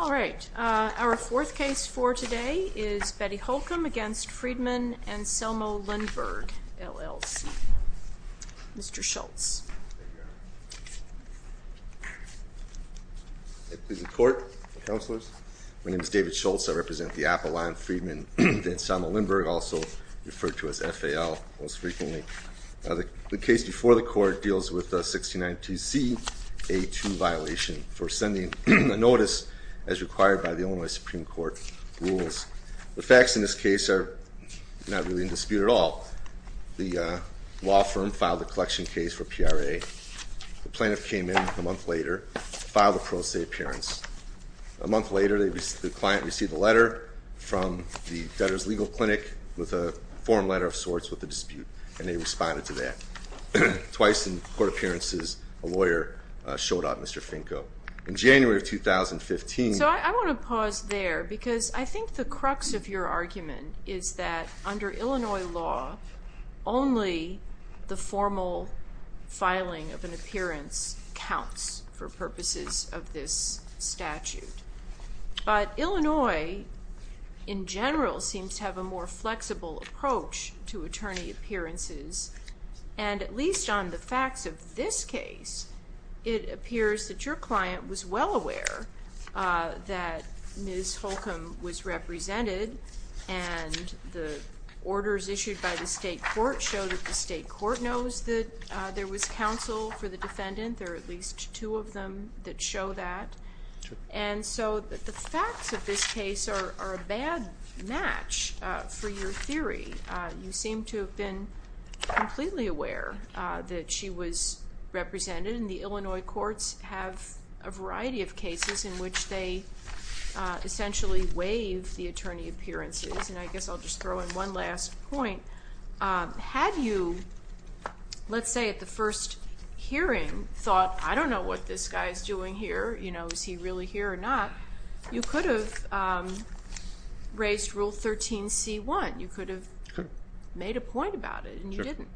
All right, our fourth case for today is Betty Holcomb v. Freedman Anselmo Lindberg, LLC. Mr. Schultz. Please report, counselors. My name is David Schultz. I represent the Appalachian Freedman Anselmo Lindberg, also referred to as FAL most frequently. The case before the court deals with a 1692cA2 violation for sending a notice as required by the Illinois Supreme Court rules. The facts in this case are not really in dispute at all. The law firm filed a collection case for PRA. The plaintiff came in a month later, filed a pro se appearance. A month later, the client received a letter from the debtor's legal clinic with a form letter of sorts with a dispute. And they responded to that. Twice in court appearances, a lawyer showed up, Mr. Finko. So I want to pause there because I think the crux of your argument is that under Illinois law, only the formal filing of an appearance counts for purposes of this statute. But Illinois in general seems to have a more flexible approach to attorney appearances. And at least on the facts of this case, it appears that your client was well aware that Ms. Holcomb was represented. And the orders issued by the state court showed that the state court knows that there was counsel for the defendant. There are at least two of them that show that. And so the facts of this case are a bad match for your theory. You seem to have been completely aware that she was represented. And the Illinois courts have a variety of cases in which they essentially waive the attorney appearances. And I guess I'll just throw in one last point. Had you, let's say at the first hearing, thought, I don't know what this guy is doing here, you know, is he really here or not? You could have raised Rule 13c1. You could have made a point about it and you didn't.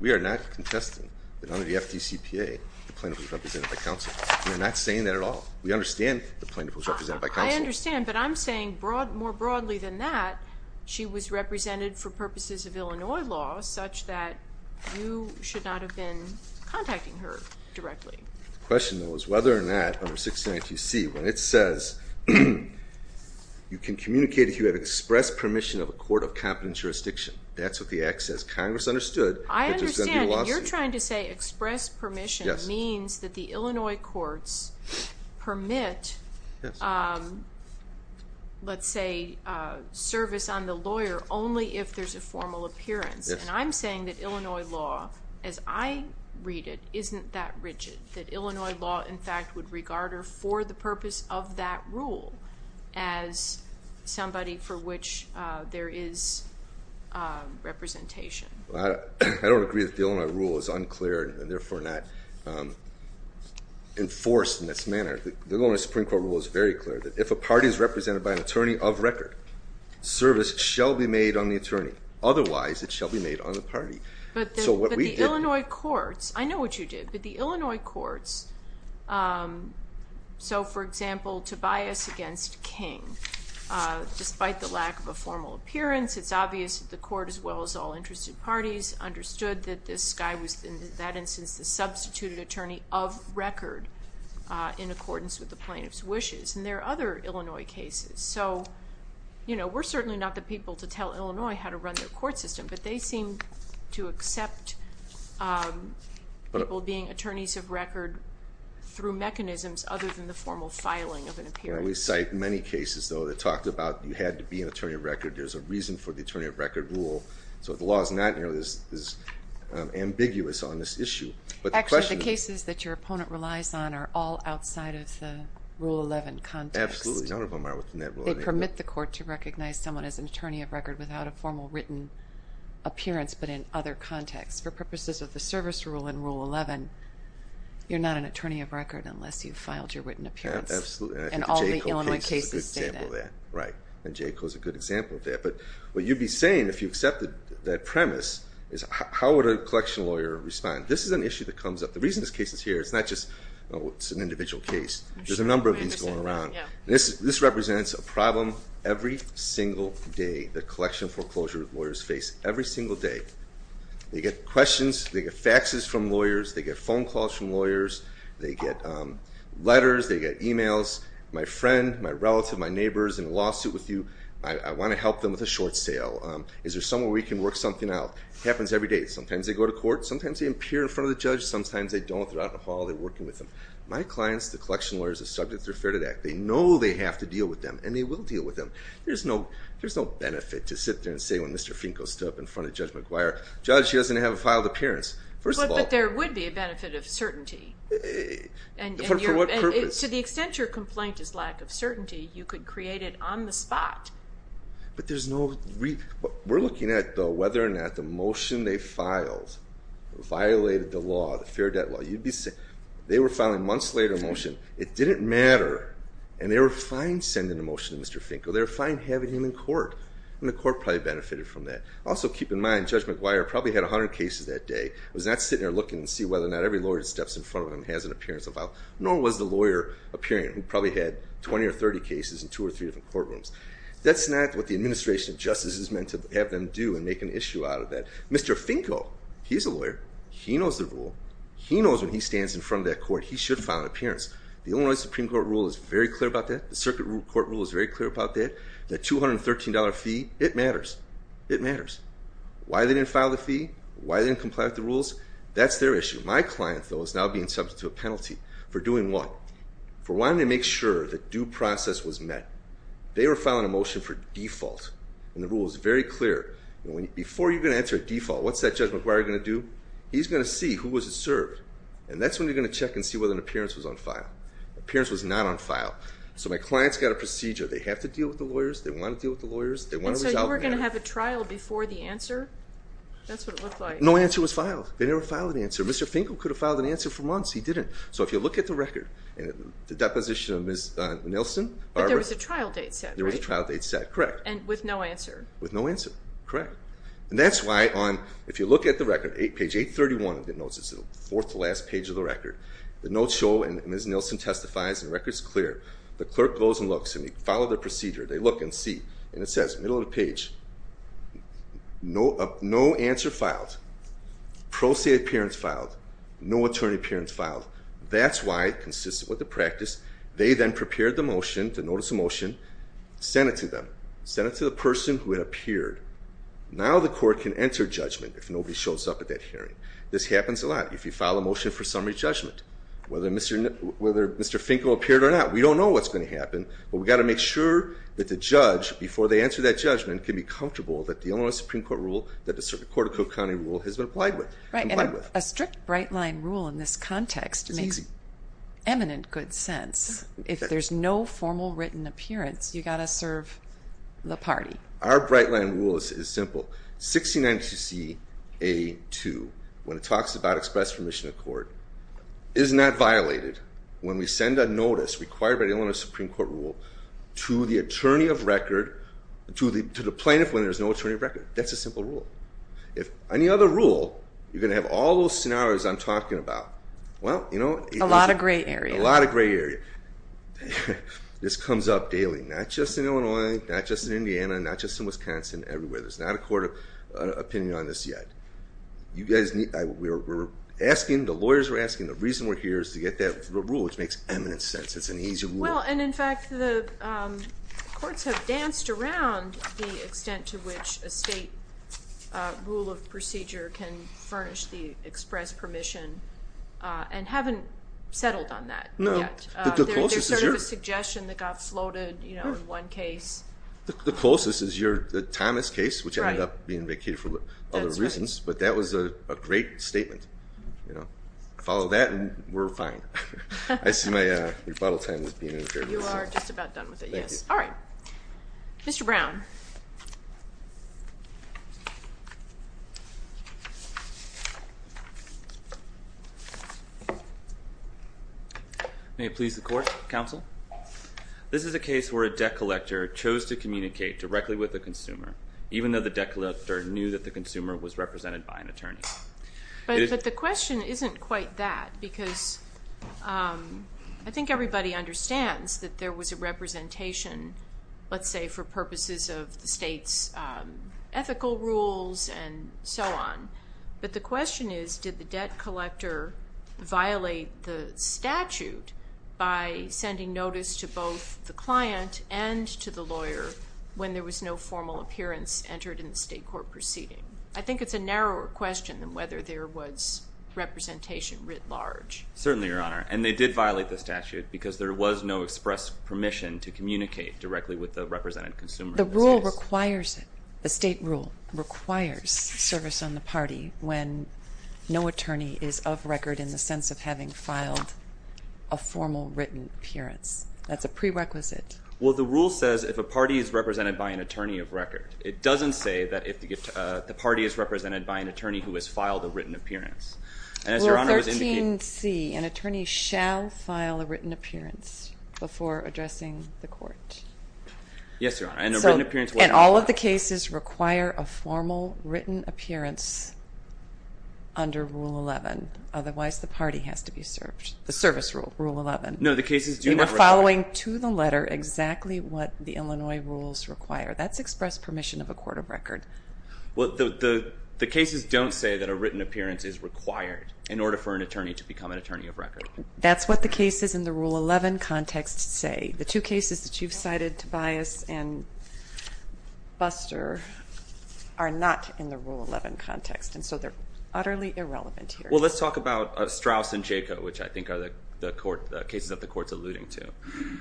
We are not contesting that under the FDCPA, the plaintiff was represented by counsel. We're not saying that at all. We understand the plaintiff was represented by counsel. I understand, but I'm saying more broadly than that, she was represented for purposes of Illinois law such that you should not have been contacting her directly. The question, though, is whether or not, under 692C, when it says you can communicate if you have expressed permission of a court of competent jurisdiction. That's what the act says. Congress understood that there's going to be a lawsuit. I understand, and you're trying to say express permission means that the Illinois courts permit, let's say, service on the lawyer only if there's a formal appearance. And I'm saying that Illinois law, as I read it, isn't that rigid. That Illinois law, in fact, would regard her for the purpose of that rule as somebody for which there is representation. I don't agree that the Illinois rule is unclear and therefore not enforced in this manner. The Illinois Supreme Court rule is very clear that if a party is represented by an attorney of record, service shall be made on the attorney. Otherwise, it shall be made on the party. But the Illinois courts, I know what you did, but the Illinois courts, so for example, Tobias against King, despite the lack of a formal appearance, it's obvious that the court, as well as all interested parties, understood that this guy was, in that instance, the substituted attorney of record in accordance with the plaintiff's wishes. And there are other Illinois cases. So, you know, we're certainly not the people to tell Illinois how to run their court system, but they seem to accept people being attorneys of record through mechanisms other than the formal filing of an appearance. I always cite many cases, though, that talked about you had to be an attorney of record. There's a reason for the attorney of record rule. So the law is not nearly as ambiguous on this issue. Actually, the cases that your opponent relies on are all outside of the Rule 11 context. Absolutely. None of them are within that rule. They permit the court to recognize someone as an attorney of record without a formal written appearance, but in other contexts. For purposes of the service rule in Rule 11, you're not an attorney of record unless you've filed your written appearance. Absolutely. And I think the Jayco case is a good example of that. Right. And Jayco is a good example of that. But what you'd be saying, if you accepted that premise, is how would a collection lawyer respond? This is an issue that comes up. The reason this case is here, it's not just, oh, it's an individual case. There's a number of these going around. This represents a problem every single day that collection foreclosure lawyers face, every single day. They get questions. They get faxes from lawyers. They get phone calls from lawyers. They get letters. They get e-mails. My friend, my relative, my neighbor is in a lawsuit with you. I want to help them with a short sale. Is there someone we can work something out? It happens every day. Sometimes they go to court. Sometimes they appear in front of the judge. Sometimes they don't. They're out in the hall. They're working with them. My clients, the collection lawyers, are subject to the Affair to the Act. They know they have to deal with them, and they will deal with them. There's no benefit to sit there and say when Mr. Finko stood up in front of Judge McGuire, Judge, he doesn't have a filed appearance, first of all. But there would be a benefit of certainty. For what purpose? To the extent your complaint is lack of certainty, you could create it on the spot. But there's no reason. We're looking at, though, whether or not the motion they filed violated the law, the fair debt law. They were filing a months-later motion. It didn't matter, and they were fine sending the motion to Mr. Finko. They were fine having him in court, and the court probably benefited from that. Also, keep in mind, Judge McGuire probably had 100 cases that day. He was not sitting there looking to see whether or not every lawyer that steps in front of him has an appearance to file, nor was the lawyer appearing who probably had 20 or 30 cases in two or three different courtrooms. That's not what the administration of justice is meant to have them do and make an issue out of that. Mr. Finko, he's a lawyer. He knows the rule. He knows when he stands in front of that court, he should file an appearance. The Illinois Supreme Court rule is very clear about that. The circuit court rule is very clear about that. That $213 fee, it matters. It matters. Why they didn't file the fee, why they didn't comply with the rules, that's their issue. My client, though, is now being subject to a penalty for doing what? For wanting to make sure that due process was met. They were filing a motion for default, and the rule is very clear. Before you're going to enter a default, what's that Judge McGuire going to do? He's going to see who was served, and that's when you're going to check and see whether an appearance was on file. Appearance was not on file. So my client's got a procedure. They have to deal with the lawyers. They want to deal with the lawyers. And so you were going to have a trial before the answer? That's what it looked like. No answer was filed. They never filed an answer. Mr. Finkel could have filed an answer for months. He didn't. So if you look at the record, the deposition of Ms. Nilsen. But there was a trial date set, right? There was a trial date set, correct. And with no answer. With no answer, correct. And that's why on, if you look at the record, page 831 of the notes, it's the fourth to last page of the record. The notes show, and Ms. Nilsen testifies, and the record's clear. The clerk goes and looks, and they follow the procedure. They look and see, and it says, middle of the page, no answer filed. Pro se appearance filed. No attorney appearance filed. That's why, consistent with the practice, they then prepared the motion, the notice of motion, sent it to them. Sent it to the person who had appeared. Now the court can enter judgment if nobody shows up at that hearing. This happens a lot if you file a motion for summary judgment. Whether Mr. Finkel appeared or not, we don't know what's going to happen. But we've got to make sure that the judge, before they answer that judgment, can be comfortable that the Illinois Supreme Court rule, that the Circuit Court of Cook County rule, has been applied with. Right, and a strict bright-line rule in this context makes eminent good sense. If there's no formal written appearance, you've got to serve the party. Our bright-line rule is simple. 6092C-A-2, when it talks about express permission of court, is not violated when we send a notice required by the Illinois Supreme Court rule to the attorney of record, to the plaintiff when there's no attorney of record. That's a simple rule. If any other rule, you're going to have all those scenarios I'm talking about. Well, you know, a lot of gray area. A lot of gray area. This comes up daily, not just in Illinois, not just in Indiana, not just in Wisconsin, everywhere. There's not a court opinion on this yet. We're asking, the lawyers are asking, the reason we're here is to get that rule, which makes eminent sense. It's an easy rule. Well, and in fact, the courts have danced around the extent to which a state rule of procedure can furnish the express permission and haven't settled on that yet. There's sort of a suggestion that got floated in one case. The closest is the Thomas case, which ended up being vacated for other reasons, but that was a great statement. Follow that and we're fine. I see my rebuttal time is being interrupted. You are just about done with it, yes. All right. Mr. Brown. May it please the court, counsel. This is a case where a debt collector chose to communicate directly with the consumer, even though the debt collector knew that the consumer was represented by an attorney. But the question isn't quite that, because I think everybody understands that there was a representation, let's say, for purposes of the state's ethical rules and so on. But the question is, did the debt collector violate the statute by sending notice to both the client and to the lawyer when there was no formal appearance entered in the state court proceeding? I think it's a narrower question than whether there was representation writ large. Certainly, Your Honor. And they did violate the statute because there was no express permission to communicate directly with the represented consumer. The rule requires it, the state rule requires service on the party when no attorney is of record in the sense of having filed a formal written appearance. That's a prerequisite. Well, the rule says if a party is represented by an attorney of record. It doesn't say that the party is represented by an attorney who has filed a written appearance. Well, 13C, an attorney shall file a written appearance before addressing the court. Yes, Your Honor. And all of the cases require a formal written appearance under Rule 11. Otherwise, the party has to be served. The service rule, Rule 11. No, the cases do not require that. You are following to the letter exactly what the Illinois rules require. That's express permission of a court of record. Well, the cases don't say that a written appearance is required in order for an attorney to become an attorney of record. That's what the cases in the Rule 11 context say. The two cases that you've cited, Tobias and Buster, are not in the Rule 11 context, and so they're utterly irrelevant here. Well, let's talk about Straus and Jaco, which I think are the cases that the court's alluding to.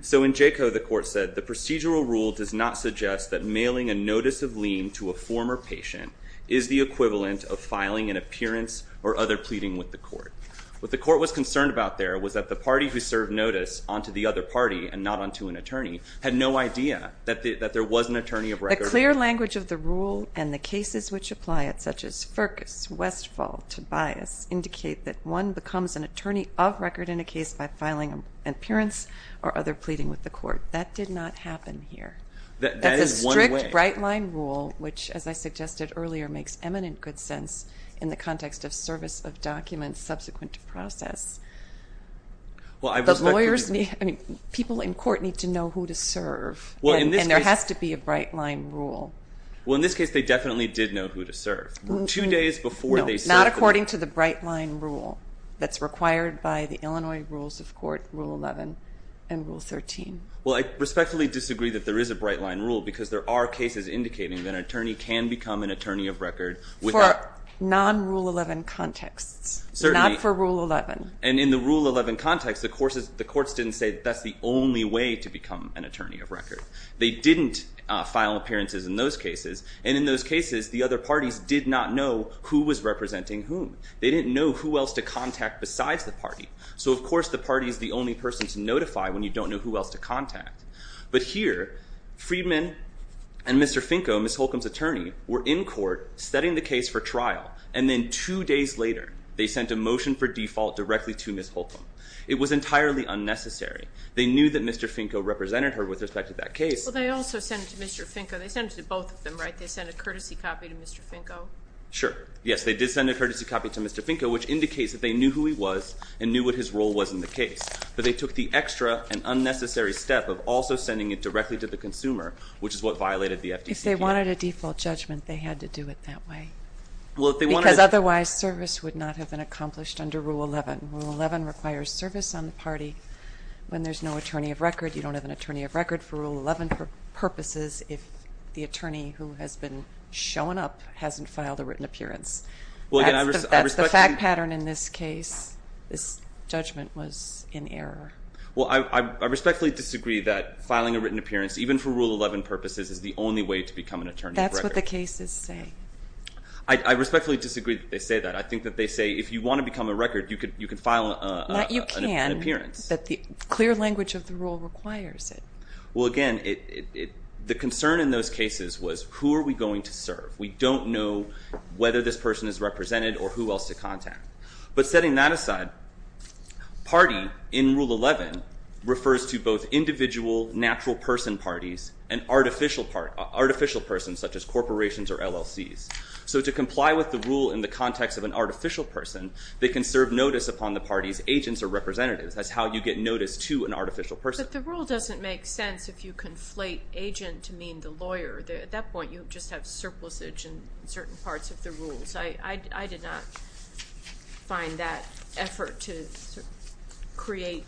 So in Jaco, the court said, The procedural rule does not suggest that mailing a notice of lien to a former patient is the equivalent of filing an appearance or other pleading with the court. What the court was concerned about there was that the party who served notice onto the other party and not onto an attorney had no idea that there was an attorney of record. The clear language of the rule and the cases which apply it, such as Firkus, Westfall, Tobias, indicate that one becomes an attorney of record in a case by filing an appearance or other pleading with the court. That did not happen here. That is one way. That's a strict right-line rule, which, as I suggested earlier, makes eminent good sense in the context of service of documents subsequent to process. Well, I respectfully disagree. People in court need to know who to serve, and there has to be a right-line rule. Well, in this case, they definitely did know who to serve. No, not according to the right-line rule that's required by the Illinois rules of court, Rule 11 and Rule 13. Well, I respectfully disagree that there is a right-line rule because there are cases indicating that an attorney can become an attorney of record. For non-Rule 11 contexts, not for Rule 11. And in the Rule 11 context, the courts didn't say that that's the only way to become an attorney of record. They didn't file appearances in those cases, and in those cases, the other parties did not know who was representing whom. They didn't know who else to contact besides the party. So, of course, the party is the only person to notify when you don't know who else to contact. But here, Friedman and Mr. Finko, Ms. Holcomb's attorney, were in court setting the case for trial, and then two days later, they sent a motion for default directly to Ms. Holcomb. It was entirely unnecessary. They knew that Mr. Finko represented her with respect to that case. Well, they also sent it to Mr. Finko. They sent it to both of them, right? They sent a courtesy copy to Mr. Finko? Sure. Yes, they did send a courtesy copy to Mr. Finko, which indicates that they knew who he was and knew what his role was in the case. But they took the extra and unnecessary step of also sending it directly to the consumer, which is what violated the FDCP. If they wanted a default judgment, they had to do it that way. Because otherwise, service would not have been accomplished under Rule 11. Rule 11 requires service on the party when there's no attorney of record. You don't have an attorney of record for Rule 11 purposes if the attorney who has been shown up hasn't filed a written appearance. That's the fact pattern in this case. This judgment was in error. Well, I respectfully disagree that filing a written appearance, even for Rule 11 purposes, is the only way to become an attorney of record. That's what the cases say. I respectfully disagree that they say that. I think that they say if you want to become a record, you can file an appearance. Not you can, but the clear language of the rule requires it. Well, again, the concern in those cases was who are we going to serve? We don't know whether this person is represented or who else to contact. But setting that aside, party in Rule 11 refers to both individual natural person parties and artificial persons, such as corporations or LLCs. So to comply with the rule in the context of an artificial person, they can serve notice upon the party's agents or representatives. That's how you get notice to an artificial person. But the rule doesn't make sense if you conflate agent to mean the lawyer. At that point, you just have surplusage in certain parts of the rules. I did not find that effort to create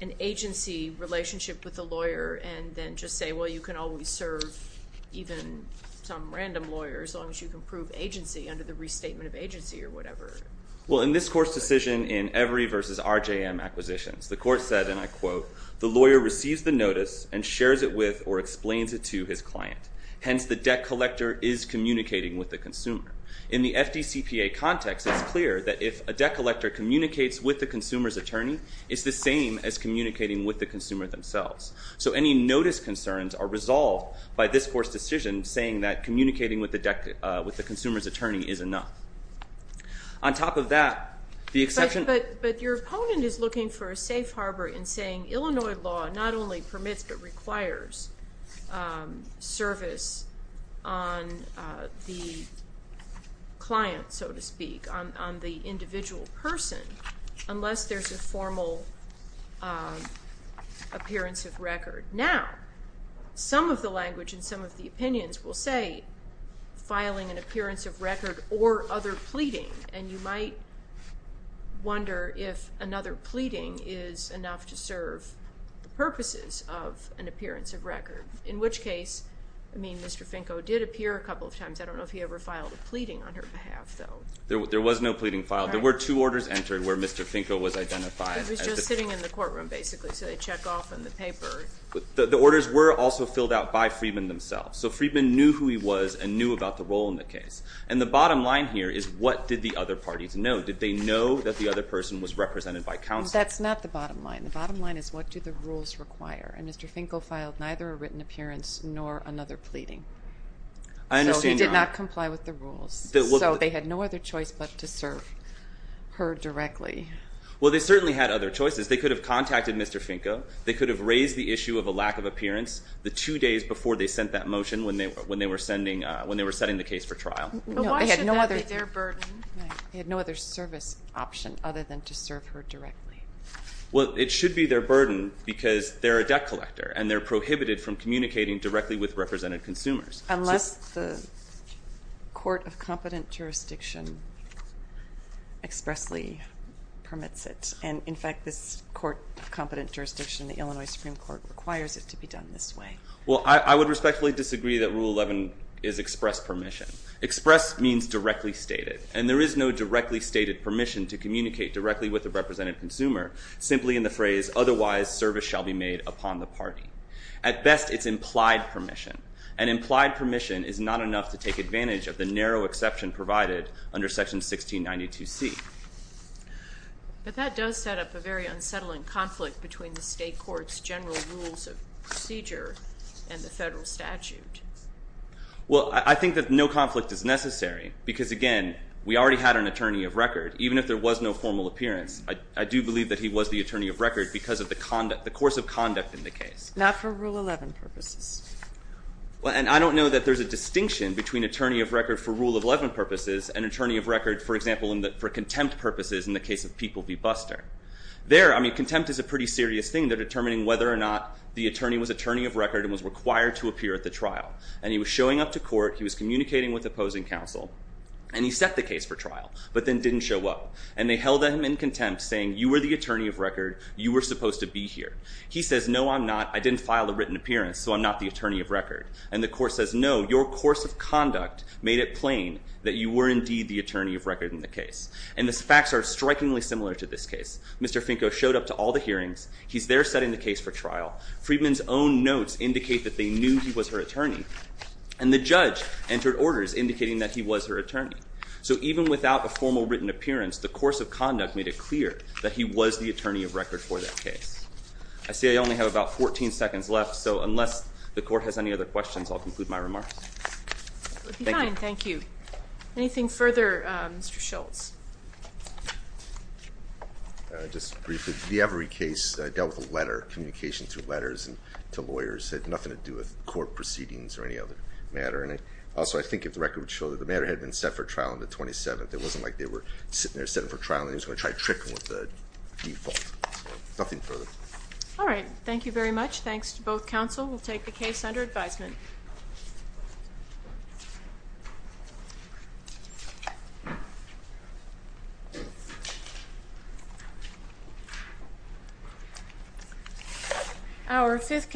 an agency relationship with a lawyer and then just say, well, you can always serve even some random lawyer as long as you can prove agency under the restatement of agency or whatever. Well, in this court's decision in Every v. RJM Acquisitions, the court said, and I quote, the lawyer receives the notice and shares it with or explains it to his client. Hence, the debt collector is communicating with the consumer. In the FDCPA context, it's clear that if a debt collector communicates with the consumer's attorney, it's the same as communicating with the consumer themselves. So any notice concerns are resolved by this court's decision saying that communicating with the consumer's attorney is enough. On top of that, the exception- But your opponent is looking for a safe harbor in saying Illinois law not only permits but requires service on the client, so to speak, on the individual person unless there's a formal appearance of record. Now, some of the language and some of the opinions will say filing an appearance of record or other pleading, and you might wonder if another pleading is enough to serve the purposes of an appearance of record, in which case, I mean, Mr. Finko did appear a couple of times. I don't know if he ever filed a pleading on her behalf, though. There was no pleading filed. There were two orders entered where Mr. Finko was identified. He was just sitting in the courtroom, basically, so they check off in the paper. The orders were also filled out by Friedman themselves, so Friedman knew who he was and knew about the role in the case, and the bottom line here is what did the other parties know? Did they know that the other person was represented by counsel? That's not the bottom line. The bottom line is what do the rules require, and Mr. Finko filed neither a written appearance nor another pleading. I understand now. So he did not comply with the rules, so they had no other choice but to serve her directly. Well, they certainly had other choices. They could have contacted Mr. Finko. They could have raised the issue of a lack of appearance the two days before they sent that motion when they were setting the case for trial. But why should that be their burden? They had no other service option other than to serve her directly. Well, it should be their burden because they're a debt collector, and they're prohibited from communicating directly with represented consumers. Unless the Court of Competent Jurisdiction expressly permits it, and, in fact, this Court of Competent Jurisdiction, the Illinois Supreme Court, requires it to be done this way. Well, I would respectfully disagree that Rule 11 is express permission. Express means directly stated, and there is no directly stated permission to communicate directly with a represented consumer simply in the phrase, otherwise service shall be made upon the party. At best, it's implied permission. And implied permission is not enough to take advantage of the narrow exception provided under Section 1692C. But that does set up a very unsettling conflict between the state court's general rules of procedure and the federal statute. Well, I think that no conflict is necessary because, again, we already had an attorney of record. Even if there was no formal appearance, I do believe that he was the attorney of record because of the course of conduct in the case. Not for Rule 11 purposes. Well, and I don't know that there's a distinction between attorney of record for Rule 11 purposes and attorney of record, for example, for contempt purposes in the case of People v. Buster. There, I mean, contempt is a pretty serious thing. They're determining whether or not the attorney was attorney of record and was required to appear at the trial. And he was showing up to court. He was communicating with opposing counsel, and he set the case for trial, but then didn't show up. And they held him in contempt, saying, you were the attorney of record. You were supposed to be here. He says, no, I'm not. I didn't file a written appearance, so I'm not the attorney of record. And the court says, no, your course of conduct made it plain that you were indeed the attorney of record in the case. And the facts are strikingly similar to this case. Mr. Finko showed up to all the hearings. He's there setting the case for trial. Friedman's own notes indicate that they knew he was her attorney. And the judge entered orders indicating that he was her attorney. So even without a formal written appearance, the course of conduct made it clear that he was the attorney of record for that case. I see I only have about 14 seconds left, so unless the court has any other questions, I'll conclude my remarks. Thank you. Anything further, Mr. Schultz? Just briefly, the Avary case dealt with a letter, communication through letters to lawyers. It had nothing to do with court proceedings or any other matter. And also, I think if the record would show that the matter had been set for trial on the 27th, it wasn't like they were sitting there setting for trial and they were just going to try to trick them with the default. Nothing further. All right. Thank you very much. Thanks to both counsel. We'll take the case under advisement. Our fifth case.